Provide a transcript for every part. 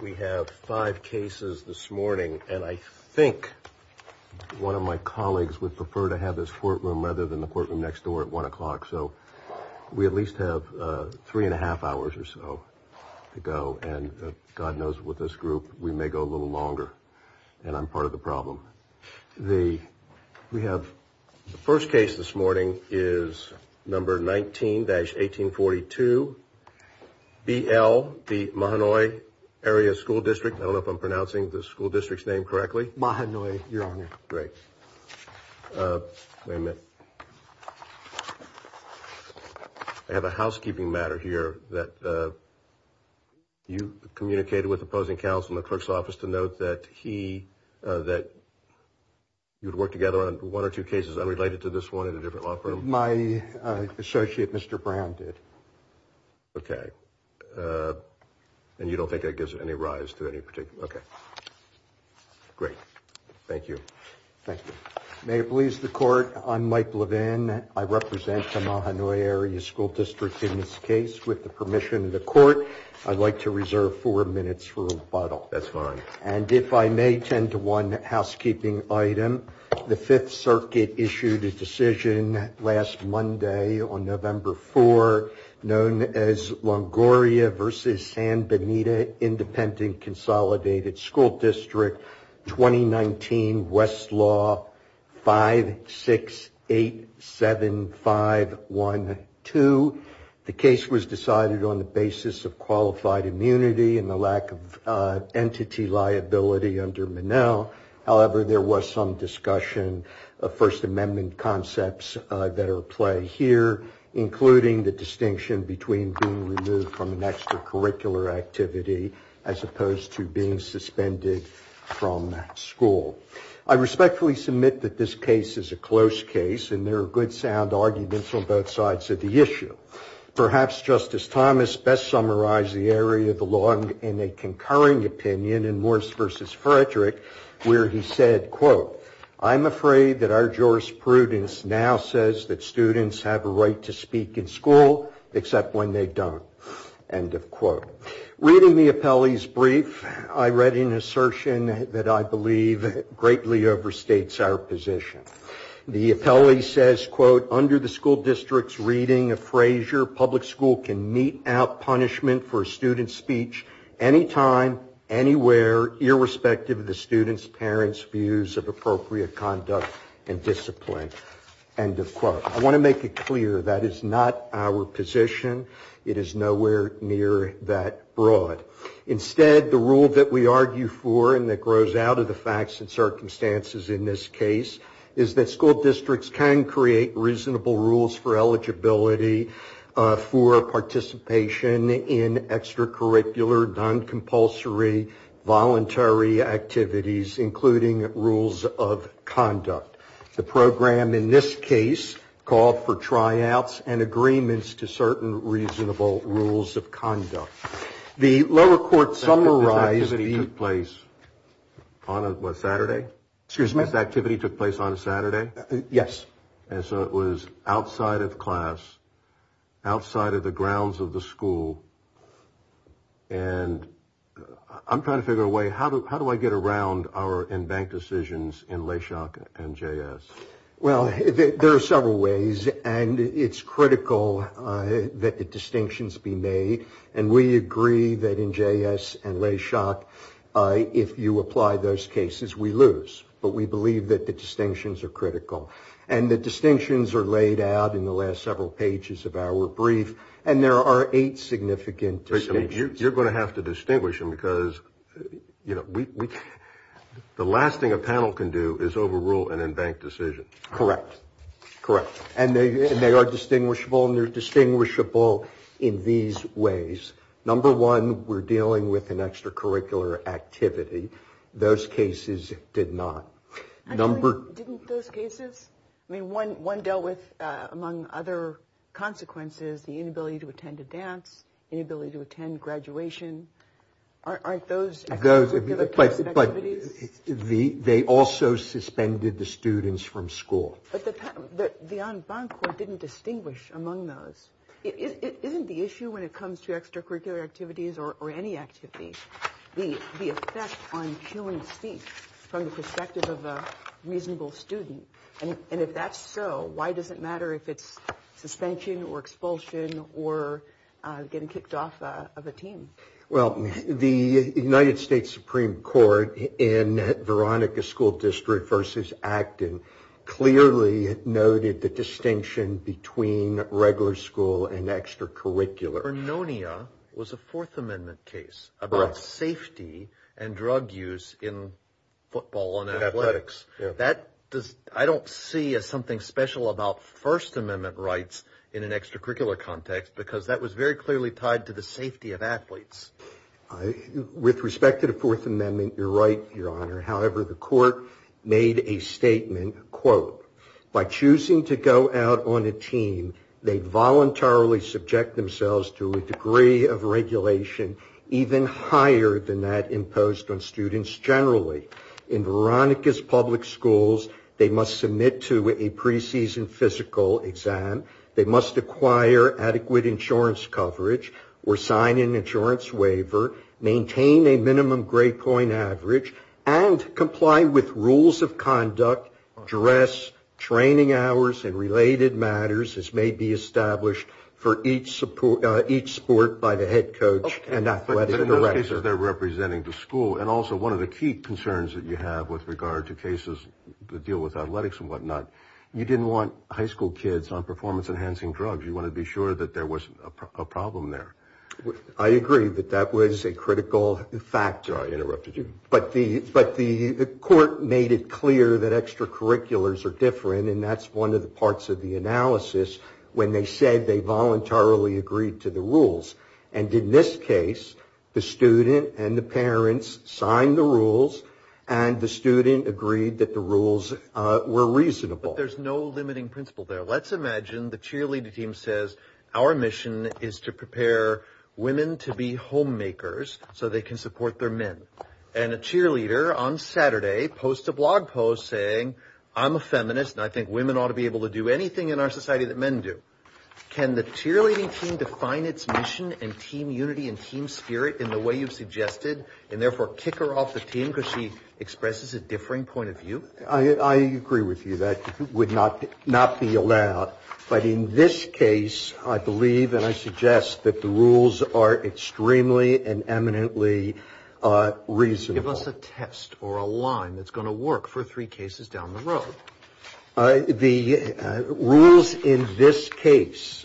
We have five cases this morning, and I think one of my colleagues would prefer to have this courtroom rather than the courtroom next door at 1 o'clock. So we at least have three and a half hours or so to go, and God knows with this group, we may go a little longer, and I'm part of the problem. The first case this morning is number 19-1842, B.L. v. Mahanoy Area School District. I don't know if I'm pronouncing the school district's name correctly. Mahanoy, Your Honor. Great. Wait a minute. I have a housekeeping matter here that you communicated with opposing counsel in the clerk's office to note that he, that you'd work together on one or two cases unrelated to this one in a different law firm. My associate, Mr. Brown, did. Okay. And you don't think that gives any rise to any particular. Okay. Great. Thank you. Thank you. May it please the court. I'm Mike Levin. I represent the Mahanoy Area School District in this case. With the permission of the court, I'd like to reserve four minutes for rebuttal. That's fine. And if I may tend to one housekeeping item, the Fifth Circuit issued a decision last Monday on November 4, known as Longoria v. San Benito Independent Consolidated School District 2019 Westlaw 5687512. The case was decided on the basis of qualified immunity and the lack of entity liability under Monell. However, there was some discussion of First Amendment concepts that are at play here, including the distinction between being removed from an extracurricular activity as opposed to being suspended from school. I respectfully submit that this case is a close case, and there are good sound arguments on both sides of the issue. Perhaps Justice Thomas best summarized the area of the law in a concurring opinion in Morris v. Frederick, where he said, quote, I'm afraid that our jurisprudence now says that students have a right to speak in school, except when they don't. End of quote. Reading the appellee's brief, I read an assertion that I believe greatly overstates our position. The appellee says, quote, under the school district's reading of Frazier, public school can mete out punishment for a student's speech anytime, anywhere, irrespective of the student's parents' views of appropriate conduct and discipline. End of quote. I want to make it clear that is not our position. It is nowhere near that broad. Instead, the rule that we argue for and that grows out of the facts and circumstances in this case is that school districts can create reasonable rules for eligibility for participation in extracurricular, non-compulsory, voluntary activities, including rules of conduct. The program in this case called for tryouts and agreements to certain reasonable rules of conduct. The lower court summarized the place on a Saturday. Excuse me. Activity took place on a Saturday. Yes. And so it was outside of class, outside of the grounds of the school. And I'm trying to figure out a way. How do how do I get around our in-bank decisions in Leshock and J.S.? Well, there are several ways. And it's critical that the distinctions be made. And we agree that in J.S. and Leshock, if you apply those cases, we lose. But we believe that the distinctions are critical. And the distinctions are laid out in the last several pages of our brief. And there are eight significant decisions. You're going to have to distinguish them because, you know, the last thing a panel can do is overrule an in-bank decision. Correct. Correct. And they are distinguishable and they're distinguishable in these ways. Number one, we're dealing with an extracurricular activity. Those cases did not. Number didn't those cases. I mean, one one dealt with, among other consequences, the inability to attend a dance, inability to attend graduation. Aren't those those places? But they also suspended the students from school. But the on bank didn't distinguish among those. It isn't the issue when it comes to extracurricular activities or any activity. The effect on human speech from the perspective of a reasonable student. And if that's so, why does it matter if it's suspension or expulsion or getting kicked off of a team? Well, the United States Supreme Court in Veronica School District versus Acton clearly noted the distinction between regular school and extracurricular. Pernonia was a Fourth Amendment case about safety and drug use in football and athletics. That does. I don't see as something special about First Amendment rights in an extracurricular context, because that was very clearly tied to the safety of athletes. With respect to the Fourth Amendment. You're right, Your Honor. However, the court made a statement, quote, by choosing to go out on a team, they voluntarily subject themselves to a degree of regulation even higher than that imposed on students generally. In Veronica's public schools, they must submit to a preseason physical exam. They must acquire adequate insurance coverage or sign an insurance waiver, maintain a minimum grade point average, and comply with rules of conduct, dress, training hours, and related matters as may be established for each sport by the head coach and athletic director. Okay. But in those cases, they're representing the school. And also, one of the key concerns that you have with regard to cases that deal with athletics and whatnot, you didn't want high school kids on performance-enhancing drugs. You wanted to be sure that there wasn't a problem there. I agree that that was a critical factor. Sorry, I interrupted you. But the court made it clear that extracurriculars are different, and that's one of the parts of the analysis when they said they voluntarily agreed to the rules. And in this case, the student and the parents signed the rules, and the student agreed that the rules were reasonable. But there's no limiting principle there. Let's imagine the cheerleader team says, our mission is to prepare women to be homemakers so they can support their men. And a cheerleader on Saturday posts a blog post saying, I'm a feminist, and I think women ought to be able to do anything in our society that men do. Can the cheerleading team define its mission and team unity and team spirit in the way you've suggested, and therefore kick her off the team because she expresses a differing point of view? I agree with you that it would not be allowed. But in this case, I believe and I suggest that the rules are extremely and eminently reasonable. Give us a test or a line that's going to work for three cases down the road. The rules in this case,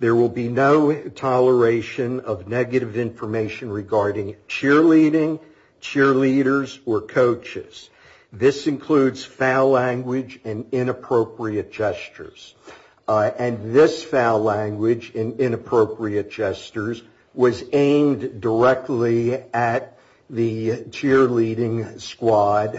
there will be no toleration of negative information regarding cheerleading, cheerleaders, or coaches. This includes foul language and inappropriate gestures. And this foul language and inappropriate gestures was aimed directly at the cheerleading squad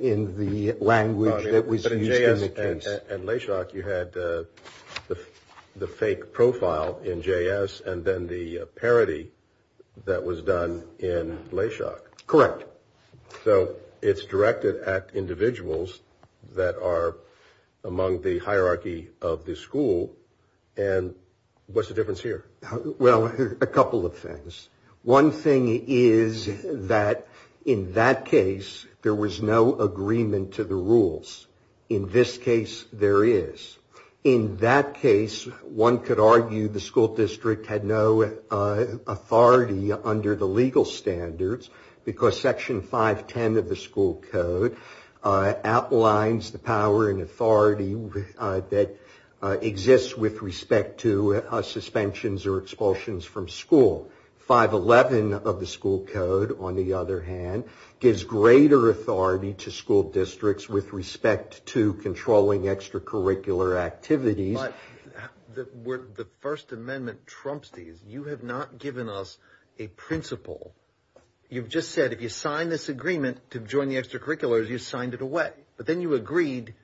in the language that was used in the case. But in J.S. and Leshock, you had the fake profile in J.S. and then the parody that was done in Leshock. Correct. So it's directed at individuals that are among the hierarchy of the school, and what's the difference here? Well, a couple of things. One thing is that in that case, there was no agreement to the rules. In this case, there is. In that case, one could argue the school district had no authority under the legal standards, because Section 510 of the school code outlines the power and authority that exists with respect to suspensions or expulsions from school. 511 of the school code, on the other hand, gives greater authority to school districts with respect to controlling extracurricular activities. But where the First Amendment trumps these, you have not given us a principle. You've just said if you sign this agreement to join the extracurriculars, you signed it away. But then you agreed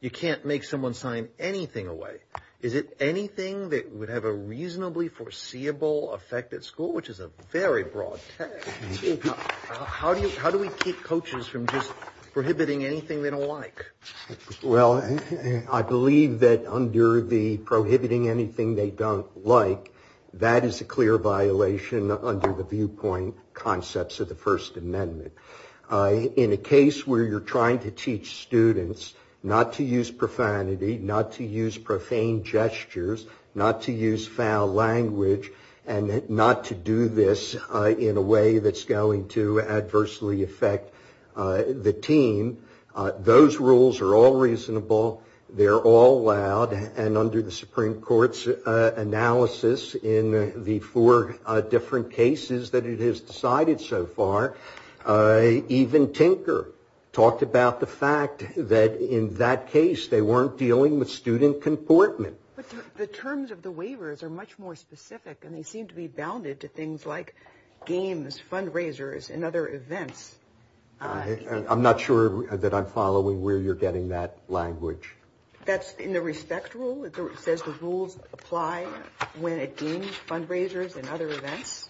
you can't make someone sign anything away. Is it anything that would have a reasonably foreseeable effect at school, which is a very broad text? How do we keep coaches from just prohibiting anything they don't like? Well, I believe that under the prohibiting anything they don't like, that is a clear violation under the viewpoint concepts of the First Amendment. In a case where you're trying to teach students not to use profanity, not to use profane gestures, not to use foul language, and not to do this in a way that's going to adversely affect the team, those rules are all reasonable, they're all allowed, and under the Supreme Court's analysis in the four different cases that it has decided so far, even Tinker talked about the fact that in that case they weren't dealing with student comportment. The terms of the waivers are much more specific, and they seem to be bounded to things like games, fundraisers, and other events. I'm not sure that I'm following where you're getting that language. That's in the respect rule. It says the rules apply when it deems fundraisers and other events,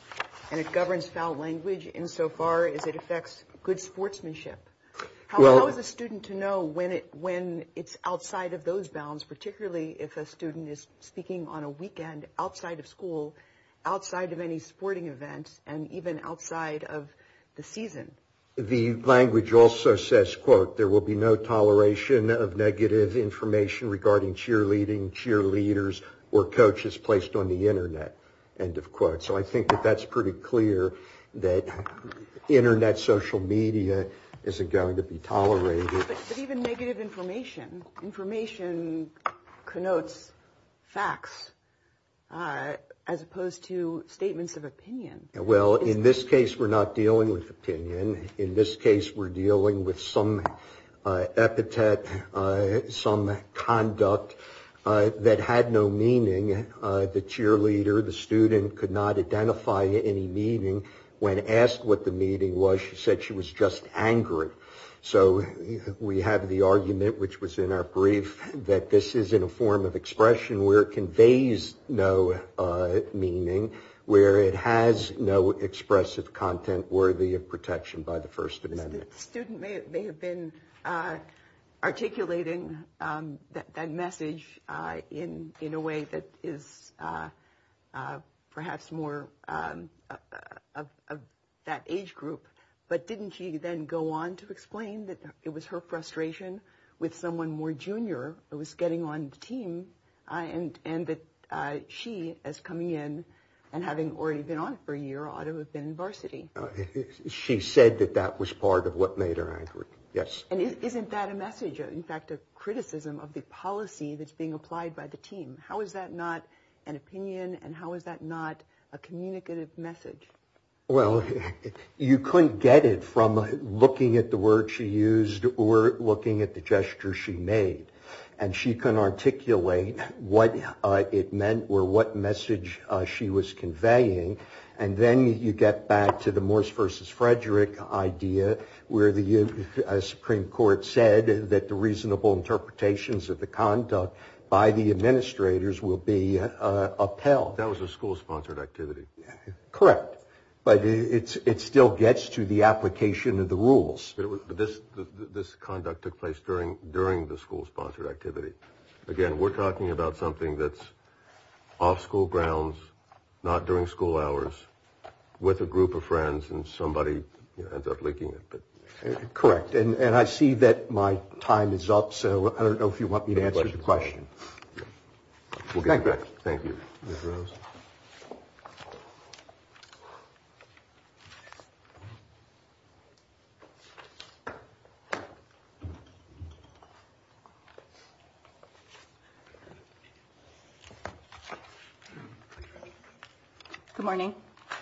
and it governs foul language insofar as it affects good sportsmanship. How is a student to know when it's outside of those bounds, particularly if a student is speaking on a weekend outside of school, outside of any sporting events, and even outside of the season? The language also says, quote, there will be no toleration of negative information regarding cheerleading, cheerleaders, or coaches placed on the Internet, end of quote. So I think that that's pretty clear that Internet social media isn't going to be tolerated. But even negative information, information connotes facts as opposed to statements of opinion. Well, in this case we're not dealing with opinion. In this case we're dealing with some epithet, some conduct that had no meaning. The cheerleader, the student, could not identify any meaning when asked what the meaning was. She said she was just angry. So we have the argument, which was in our brief, that this is in a form of expression where it conveys no meaning, where it has no expressive content worthy of protection by the First Amendment. The student may have been articulating that message in a way that is perhaps more of that age group, but didn't she then go on to explain that it was her frustration with someone more junior who was getting on the team, and that she, as coming in and having already been on for a year, ought to have been in varsity? She said that that was part of what made her angry, yes. And isn't that a message, in fact a criticism of the policy that's being applied by the team? How is that not an opinion and how is that not a communicative message? Well, you couldn't get it from looking at the word she used or looking at the gesture she made. And she can articulate what it meant or what message she was conveying. And then you get back to the Morse versus Frederick idea where the Supreme Court said that the reasonable interpretations of the conduct by the administrators will be upheld. That was a school-sponsored activity. Correct, but it still gets to the application of the rules. But this conduct took place during the school-sponsored activity. Again, we're talking about something that's off school grounds, not during school hours, with a group of friends, and somebody ends up leaking it. Correct, and I see that my time is up, so I don't know if you want me to answer the question. Thank you. Good morning.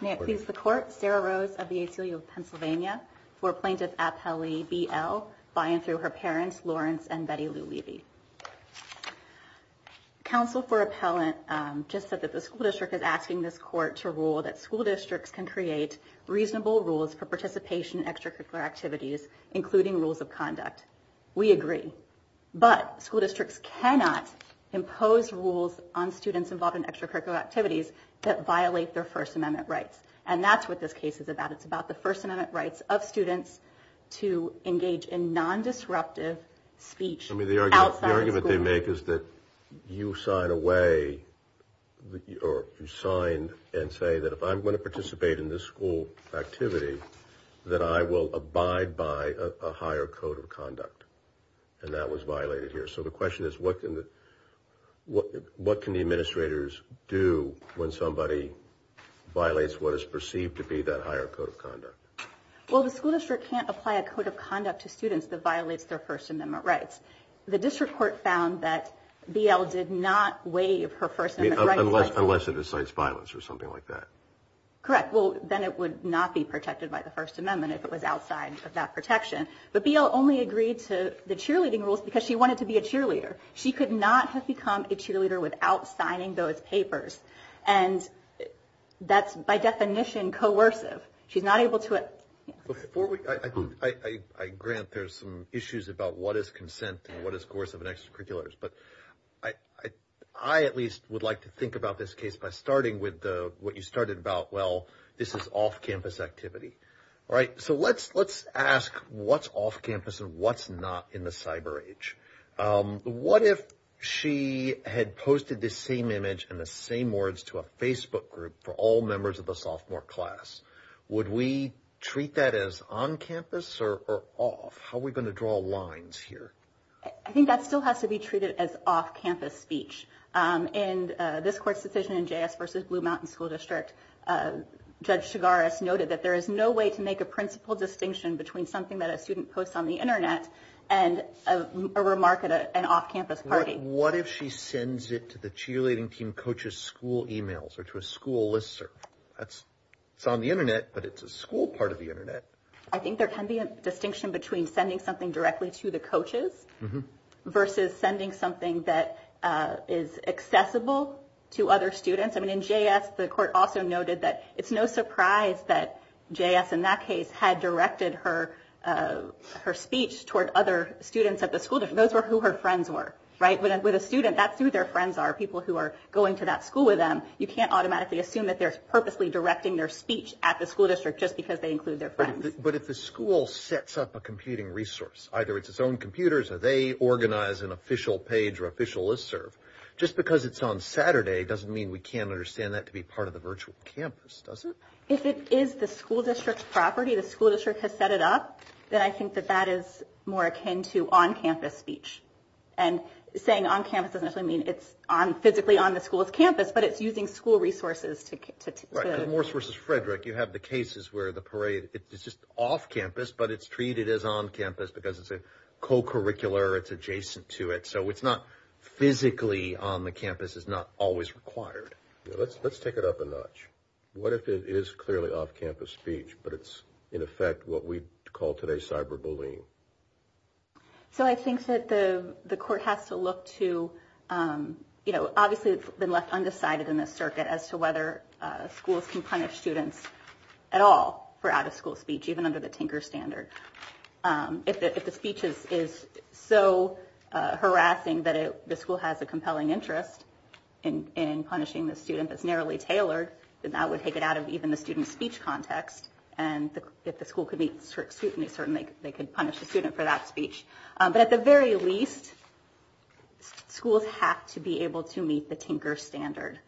May it please the Court, Sarah Rose of the ACLU of Pennsylvania, for Plaintiff Appellee B.L. By and through her parents, Lawrence and Betty Lou Levy. Counsel for Appellant just said that the school district is asking this Court to rule that school districts can create reasonable rules for participation in extracurricular activities, including rules of conduct. We agree, but school districts cannot impose rules on students involved in extracurricular activities that violate their First Amendment rights. And that's what this case is about. It's about the First Amendment rights of students to engage in non-disruptive speech outside of school. The argument they make is that you sign away, or you sign and say that if I'm going to participate in this school activity, that I will abide by a higher code of conduct. And that was violated here. So the question is, what can the administrators do when somebody violates what is perceived to be that higher code of conduct? Well, the school district can't apply a code of conduct to students that violates their First Amendment rights. The district court found that B.L. did not waive her First Amendment rights. Unless it incites violence or something like that. Correct. Well, then it would not be protected by the First Amendment if it was outside of that protection. But B.L. only agreed to the cheerleading rules because she wanted to be a cheerleader. She could not have become a cheerleader without signing those papers. And that's, by definition, coercive. Before I grant, there's some issues about what is consent and what is coercive and extracurriculars. But I at least would like to think about this case by starting with what you started about. Well, this is off campus activity. All right. So let's let's ask what's off campus and what's not in the cyber age. What if she had posted the same image and the same words to a Facebook group for all members of the sophomore class? Would we treat that as on campus or off? How are we going to draw lines here? I think that still has to be treated as off campus speech. And this court's decision in J.S. versus Blue Mountain School District. Judge Chigaris noted that there is no way to make a principal distinction between something that a student posts on the Internet and a remark at an off campus party. What if she sends it to the cheerleading team coaches school emails or to a school listserv? That's it's on the Internet, but it's a school part of the Internet. I think there can be a distinction between sending something directly to the coaches versus sending something that is accessible to other students. I mean, in J.S., the court also noted that it's no surprise that J.S. in that case had directed her her speech toward other students at the school. Those were who her friends were. Right. With a student, that's who their friends are, people who are going to that school with them. You can't automatically assume that they're purposely directing their speech at the school district just because they include their friends. But if the school sets up a computing resource, either it's its own computers or they organize an official page or official listserv. Just because it's on Saturday doesn't mean we can't understand that to be part of the virtual campus, does it? If it is the school district's property, the school district has set it up, then I think that that is more akin to on campus speech. And saying on campus doesn't actually mean it's physically on the school's campus, but it's using school resources. Right. Because Morse versus Frederick, you have the cases where the parade is just off campus, but it's treated as on campus because it's a co-curricular. It's adjacent to it. So it's not physically on the campus. It's not always required. Let's take it up a notch. What if it is clearly off campus speech, but it's in effect what we call today cyber bullying? So I think that the court has to look to... Obviously, it's been left undecided in this circuit as to whether schools can punish students at all for out-of-school speech, even under the Tinker standard. If the speech is so harassing that the school has a compelling interest in punishing the student that's narrowly tailored, then that would take it out of even the student's speech context. And if the school could meet scrutiny, certainly they could punish the student for that speech. But at the very least, schools have to be able to meet the Tinker standard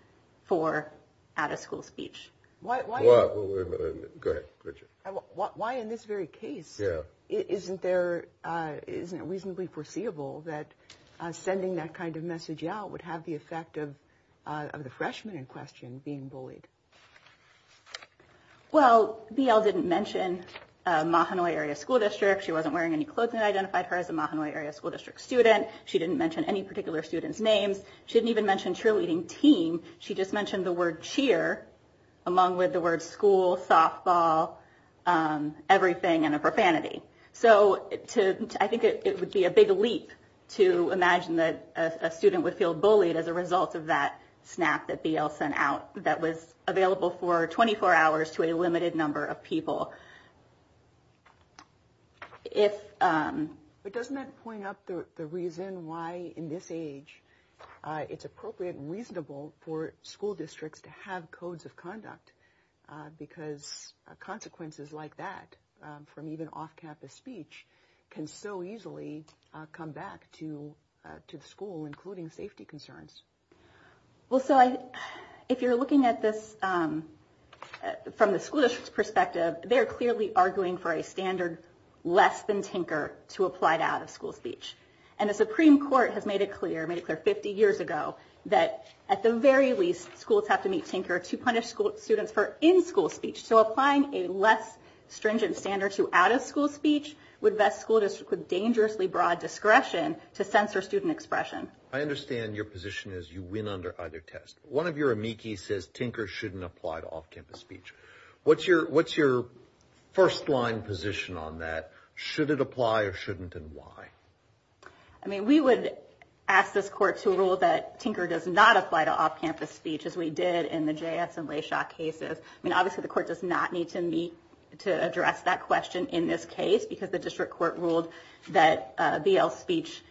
for out-of-school speech. Why in this very case isn't it reasonably foreseeable that sending that kind of message out would have the effect of the freshman in question being bullied? Well, BL didn't mention Mahanoy Area School District. She wasn't wearing any clothes that identified her as a Mahanoy Area School District student. She didn't mention any particular student's names. She didn't even mention cheerleading team. She just mentioned the word cheer, along with the word school, softball, everything, and a profanity. So I think it would be a big leap to imagine that a student would feel bullied as a result of that snap that BL sent out that was available for 24 hours to a limited number of people. But doesn't that point out the reason why, in this age, it's appropriate and reasonable for school districts to have codes of conduct? Because consequences like that, from even off-campus speech, can so easily come back to the school, including safety concerns. Well, so if you're looking at this from the school district's perspective, they're clearly arguing for a standard less than Tinker to apply to out-of-school speech. And the Supreme Court has made it clear, made it clear 50 years ago, that at the very least, schools have to meet Tinker to punish students for in-school speech. So applying a less stringent standard to out-of-school speech would vest school districts with dangerously broad discretion to censor student expression. I understand your position is you win under either test. One of your amici says Tinker shouldn't apply to off-campus speech. What's your first-line position on that? Should it apply or shouldn't, and why? I mean, we would ask this court to rule that Tinker does not apply to off-campus speech, as we did in the JS and Layshaw cases. I mean, obviously, the court does not need to address that question in this case, because the district court ruled that BL speech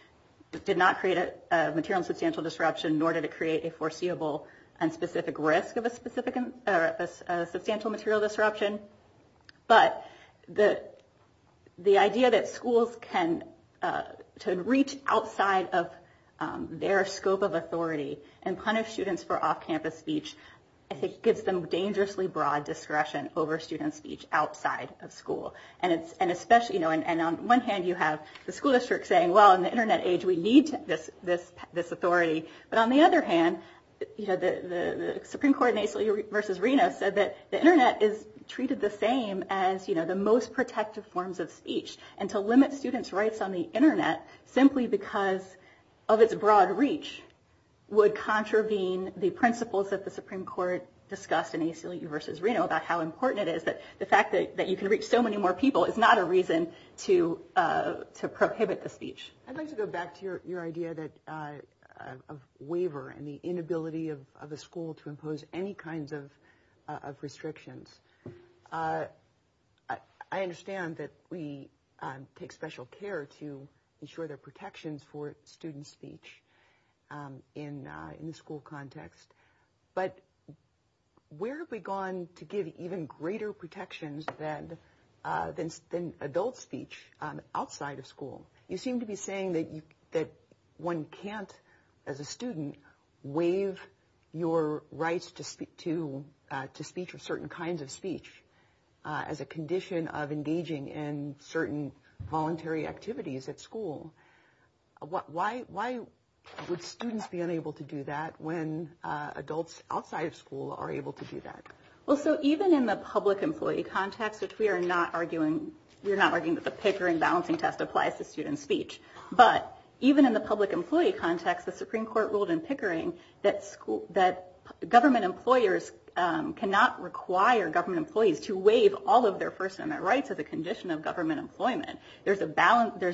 did not create a material and substantial disruption, nor did it create a foreseeable and specific risk of a substantial material disruption. But the idea that schools can reach outside of their scope of authority and punish students for off-campus speech, I think, gives them dangerously broad discretion over student speech outside of school. And on one hand, you have the school district saying, well, in the internet age, we need this authority. But on the other hand, the Supreme Court in ACLU v. Reno said that the internet is treated the same as the most protective forms of speech. And to limit students' rights on the internet simply because of its broad reach would contravene the principles that the Supreme Court discussed in ACLU v. Reno about how important it is that the fact that you can reach so many more people is not a reason to prohibit the speech. I'd like to go back to your idea of waiver and the inability of a school to impose any kinds of restrictions. I understand that we take special care to ensure there are protections for student speech in the school context. But where have we gone to give even greater protections than adult speech outside of school? You seem to be saying that one can't, as a student, waive your rights to speech or certain kinds of speech as a condition of engaging in certain voluntary activities at school. Why would students be unable to do that when adults outside of school are able to do that? Even in the public employee context, which we are not arguing that the Pickering balancing test applies to student speech, but even in the public employee context, the Supreme Court ruled in Pickering that government employers cannot require government employees to waive all of their first amendment rights as a condition of government employment. There's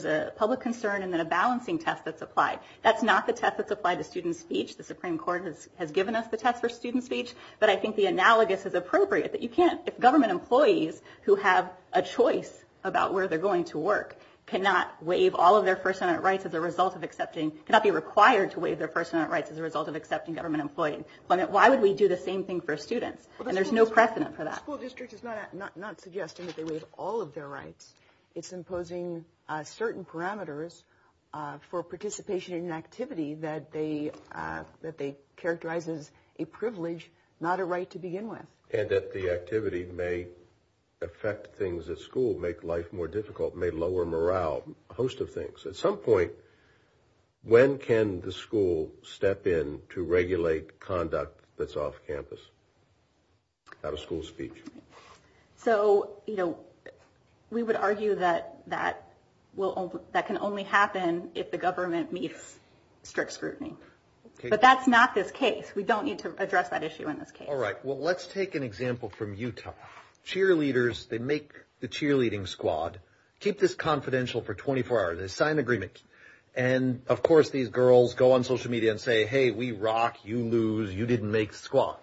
a public concern and then a balancing test that's applied. That's not the test that's applied to student speech. The Supreme Court has given us the test for student speech. But I think the analogous is appropriate, that you can't, if government employees who have a choice about where they're going to work cannot waive all of their first amendment rights as a result of accepting, cannot be required to waive their first amendment rights as a result of accepting government employment, why would we do the same thing for students? And there's no precedent for that. Our school district is not suggesting that they waive all of their rights. It's imposing certain parameters for participation in an activity that they characterize as a privilege, not a right to begin with. And that the activity may affect things at school, make life more difficult, may lower morale, a host of things. At some point, when can the school step in to regulate conduct that's off campus? Out of school speech. So, you know, we would argue that that can only happen if the government meets strict scrutiny. But that's not this case. We don't need to address that issue in this case. All right. Well, let's take an example from Utah. Cheerleaders, they make the cheerleading squad, keep this confidential for 24 hours. They sign an agreement. And, of course, these girls go on social media and say, hey, we rock. You lose. You didn't make the squad.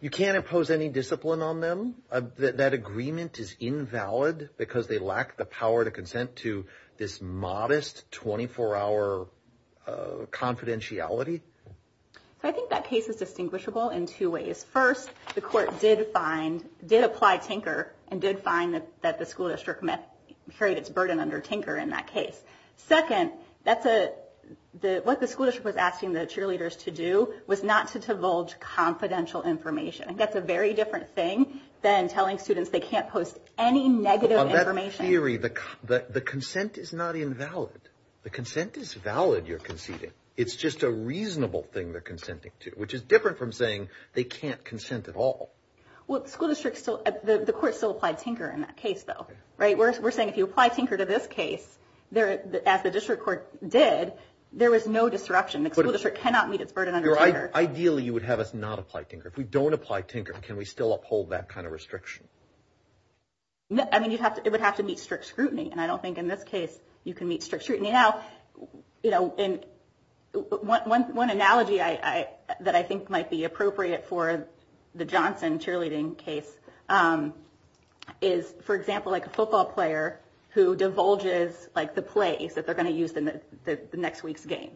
You can't impose any discipline on them. That agreement is invalid because they lack the power to consent to this modest 24 hour confidentiality. So I think that case is distinguishable in two ways. First, the court did find did apply Tinker and did find that the school district met its burden under Tinker in that case. Second, that's what the school district was asking the cheerleaders to do, was not to divulge confidential information. And that's a very different thing than telling students they can't post any negative information. The consent is not invalid. The consent is valid. You're conceding. It's just a reasonable thing they're consenting to, which is different from saying they can't consent at all. Well, the court still applied Tinker in that case, though. We're saying if you apply Tinker to this case, as the district court did, there was no disruption. The school district cannot meet its burden under Tinker. Ideally, you would have us not apply Tinker. If we don't apply Tinker, can we still uphold that kind of restriction? I mean, it would have to meet strict scrutiny. And I don't think in this case you can meet strict scrutiny. One analogy that I think might be appropriate for the Johnson cheerleading case is, for example, a football player who divulges the plays that they're going to use in the next week's game.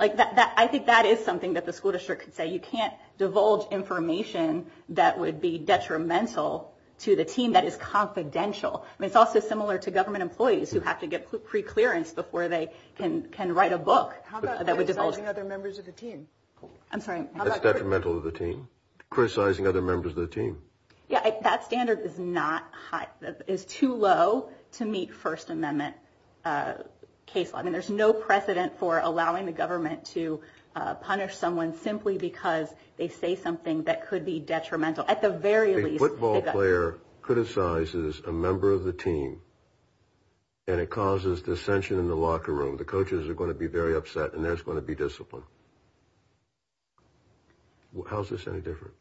I think that is something that the school district could say. You can't divulge information that would be detrimental to the team that is confidential. It's also similar to government employees who have to get preclearance before they can write a book. How about criticizing other members of the team? That standard is too low to meet First Amendment case law. I mean, there's no precedent for allowing the government to punish someone simply because they say something that could be detrimental. A football player criticizes a member of the team and it causes dissension in the locker room. The coaches are going to be very upset and there's going to be discipline. How is this any different?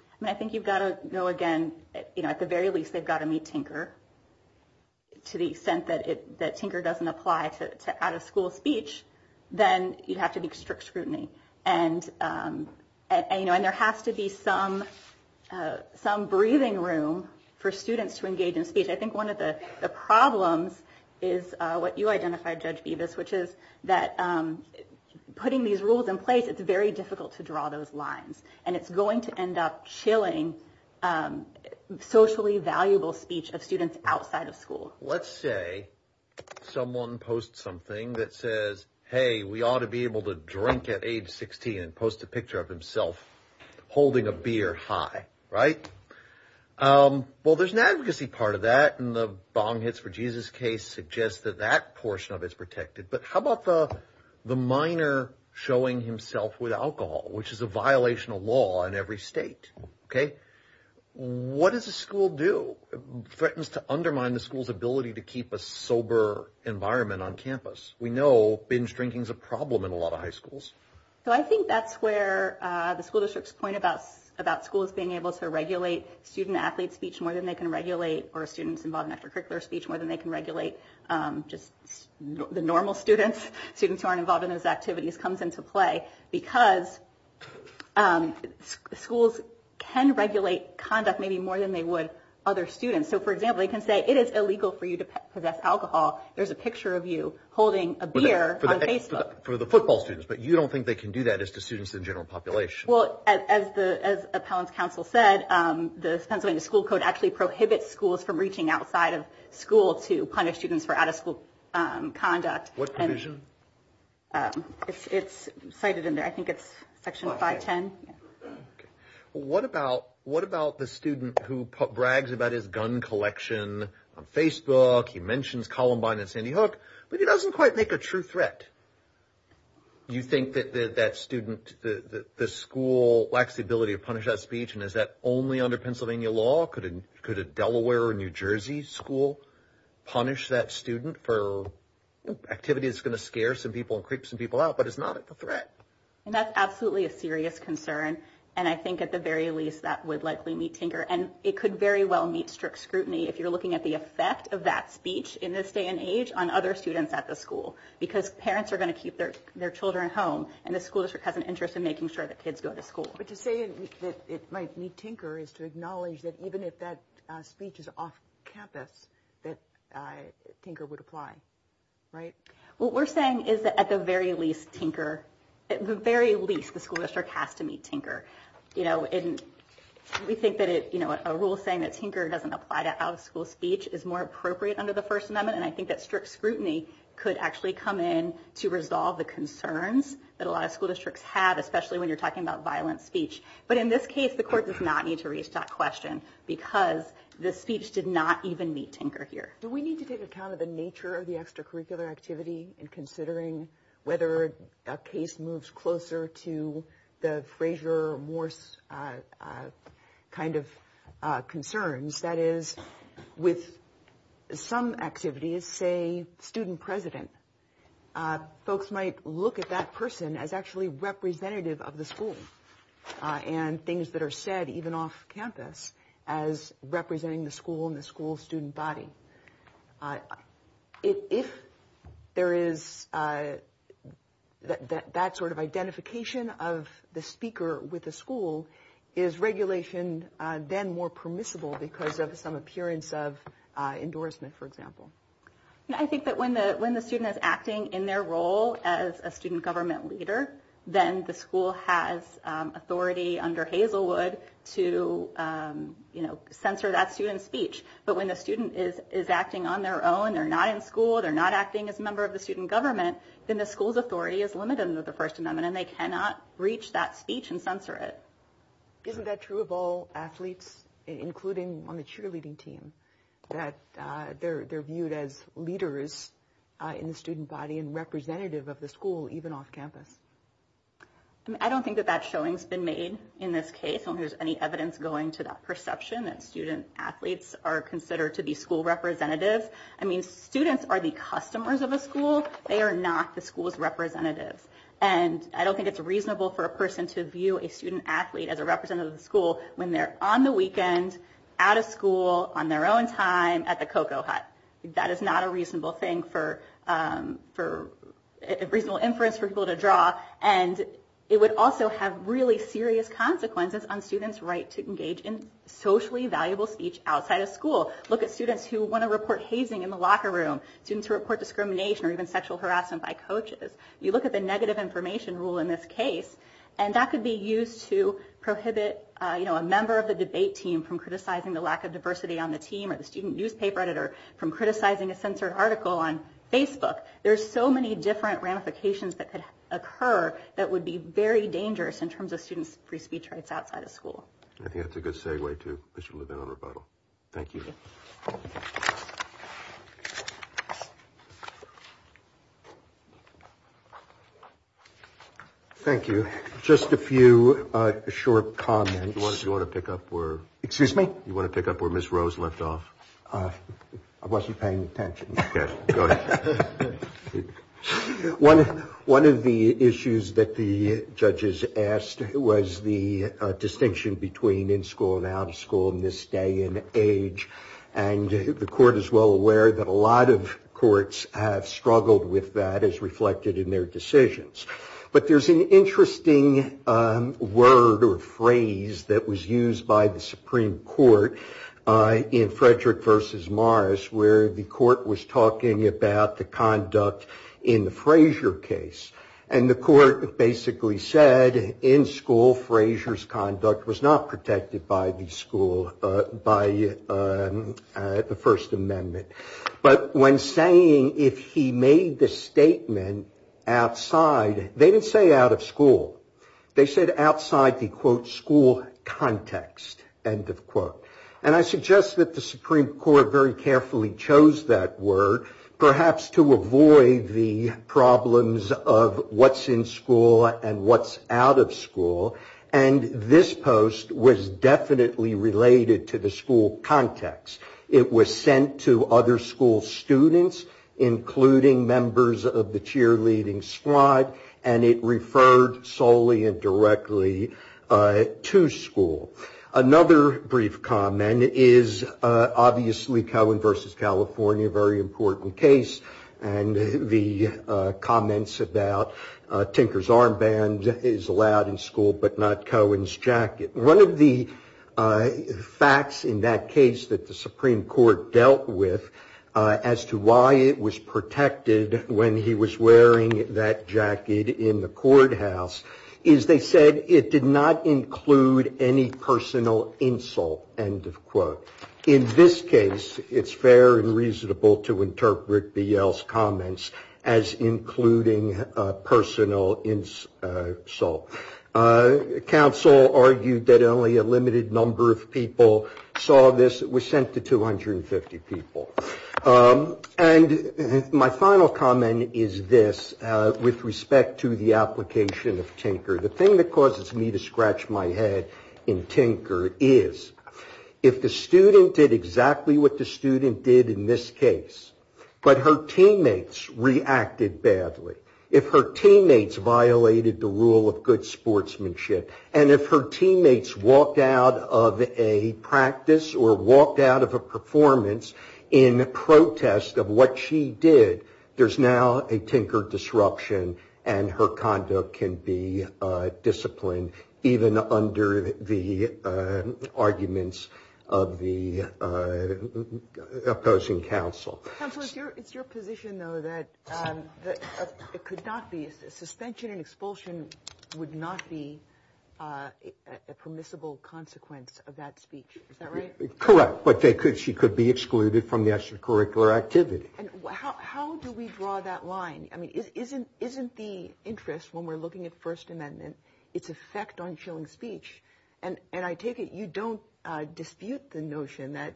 I mean, I think you've got to go again. At the very least, they've got to meet Tinker. To the extent that Tinker doesn't apply to out-of-school speech, then you'd have to be strict scrutiny. And there has to be some breathing room for students to engage in speech. I think one of the problems is what you identified, Judge Bevis, which is that putting these rules in place, it's very difficult to draw those lines. And it's going to end up chilling socially valuable speech of students outside of school. Let's say someone posts something that says, hey, we ought to be able to drink at age 16 and post a picture of himself holding a beer high. Right. Well, there's an advocacy part of that. And the bong hits for Jesus case suggests that that portion of it's protected. But how about the the minor showing himself with alcohol, which is a violation of law in every state? OK, what does a school do threatens to undermine the school's ability to keep a sober environment on campus? We know binge drinking is a problem in a lot of high schools. So I think that's where the school districts point about about schools being able to regulate student athlete speech more than they can regulate or students involved in extracurricular speech more than they can regulate. Just the normal students, students who aren't involved in those activities comes into play because schools can regulate conduct maybe more than they would other students. So, for example, they can say it is illegal for you to possess alcohol. There's a picture of you holding a beer on Facebook for the football students. But you don't think they can do that as to students in general population. Well, as the as a council said, the Pennsylvania school code actually prohibits schools from reaching outside of school to punish students for out of school conduct. What provision? It's cited in there. I think it's section five, 10. What about what about the student who brags about his gun collection on Facebook? He mentions Columbine and Sandy Hook, but he doesn't quite make a true threat. You think that that student, the school lacks the ability to punish that speech? And is that only under Pennsylvania law? Could it could a Delaware or New Jersey school punish that student for activity? It's going to scare some people and creep some people out, but it's not a threat. And that's absolutely a serious concern. And I think at the very least, that would likely meet Tinker. And it could very well meet strict scrutiny if you're looking at the effect of that speech in this day and age on other students at the school, because parents are going to keep their their children home. And the school district has an interest in making sure that kids go to school. But to say that it might meet Tinker is to acknowledge that even if that speech is off campus, that Tinker would apply. What we're saying is that at the very least, Tinker, at the very least, the school district has to meet Tinker. You know, and we think that, you know, a rule saying that Tinker doesn't apply to out of school speech is more appropriate under the First Amendment. And I think that strict scrutiny could actually come in to resolve the concerns that a lot of school districts have, especially when you're talking about violent speech. But in this case, the court does not need to reach that question because the speech did not even meet Tinker here. Do we need to take account of the nature of the extracurricular activity in considering whether a case moves closer to the Frazier, Morse kind of concerns? That is, with some activities, say, student president, folks might look at that person as actually representative of the school and things that are said even off campus as representing the school and the school student body. If there is that sort of identification of the speaker with the school, is regulation then more permissible because of some appearance of endorsement, for example? I think that when the student is acting in their role as a student government leader, then the school has authority under Hazelwood to, you know, censor that student's speech. But when the student is acting on their own, they're not in school, they're not acting as a member of the student government, then the school's authority is limited under the First Amendment and they cannot reach that speech and censor it. Isn't that true of all athletes, including on the cheerleading team, that they're viewed as leaders in the student body and representative of the school even off campus? I don't think that that showing's been made in this case. I don't think there's any evidence going to that perception that student athletes are considered to be school representatives. I mean, students are the customers of a school. They are not the school's representatives. And I don't think it's reasonable for a person to view a student athlete as a representative of the school when they're on the weekend, out of school, on their own time, at the cocoa hut. That is not a reasonable thing for a reasonable inference for people to draw. And it would also have really serious consequences on students' right to engage in socially valuable speech outside of school. Look at students who want to report hazing in the locker room, students who report discrimination or even sexual harassment by coaches. You look at the negative information rule in this case, and that could be used to prohibit a member of the debate team from criticizing the lack of diversity on the team or the student newspaper editor from criticizing a censored article on Facebook. There are so many different ramifications that could occur that would be very dangerous in terms of students' free speech rights outside of school. I think that's a good segue to Mr. Levin on rebuttal. Thank you. Thank you. Just a few short comments. Do you want to pick up where Ms. Rose left off? I wasn't paying attention. One of the issues that the judges asked was the distinction between in school and out of school in this day and age. And the court is well aware that a lot of courts have struggled with that as reflected in their decisions. But there's an interesting word or phrase that was used by the Supreme Court in Frederick versus Morris, where the court was talking about the conduct in the Frazier case. And the court basically said, in school, Frazier's conduct was not protected by the school, by the First Amendment. But when saying if he made the statement outside, they didn't say out of school. They said outside the, quote, school context, end of quote. And I suggest that the Supreme Court very carefully chose that word, perhaps to avoid the problems of what's in school and what's out of school. And this post was definitely related to the school context. It was sent to other school students, including members of the cheerleading squad, and it referred solely and directly to school. Another brief comment is obviously Cohen versus California, a very important case. And the comments about Tinker's armband is allowed in school, but not Cohen's jacket. One of the facts in that case that the Supreme Court dealt with as to why it was protected when he was wearing that jacket in the courthouse, is they said it did not include any personal insult, end of quote. In this case, it's fair and reasonable to interpret Beale's comments as including personal insult. Counsel argued that only a limited number of people saw this. It was sent to 250 people. And my final comment is this with respect to the application of Tinker. The thing that causes me to scratch my head in Tinker is if the student did exactly what the student did in this case, but her teammates reacted badly, if her teammates violated the rule of good sportsmanship, and if her teammates walked out of a practice or walked out of a performance in protest of what she did, there's now a Tinker disruption and her conduct can be disciplined even under the arguments of the opposing counsel. Counsel, it's your position, though, that suspension and expulsion would not be a permissible consequence of that speech. Is that right? Correct. But she could be excluded from the extracurricular activity. How do we draw that line? I mean, isn't the interest when we're looking at First Amendment its effect on showing speech? And I take it you don't dispute the notion that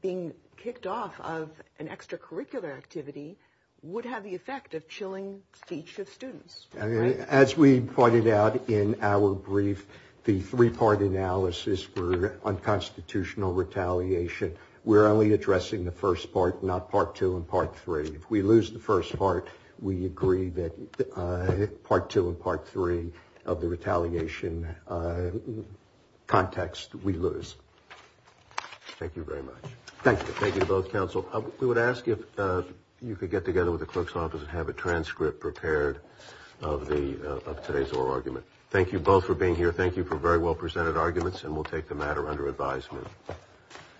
being kicked off of an extracurricular activity would have the effect of chilling speech of students. As we pointed out in our brief, the three part analysis for unconstitutional retaliation, we're only addressing the first part, not part two and part three. If we lose the first part, we agree that part two and part three of the retaliation context, we lose. Thank you very much. Thank you. Thank you to both counsel. We would ask if you could get together with the clerk's office and have a transcript prepared of today's oral argument. Thank you both for being here. Thank you for very well presented arguments. And we'll take the matter under advisement.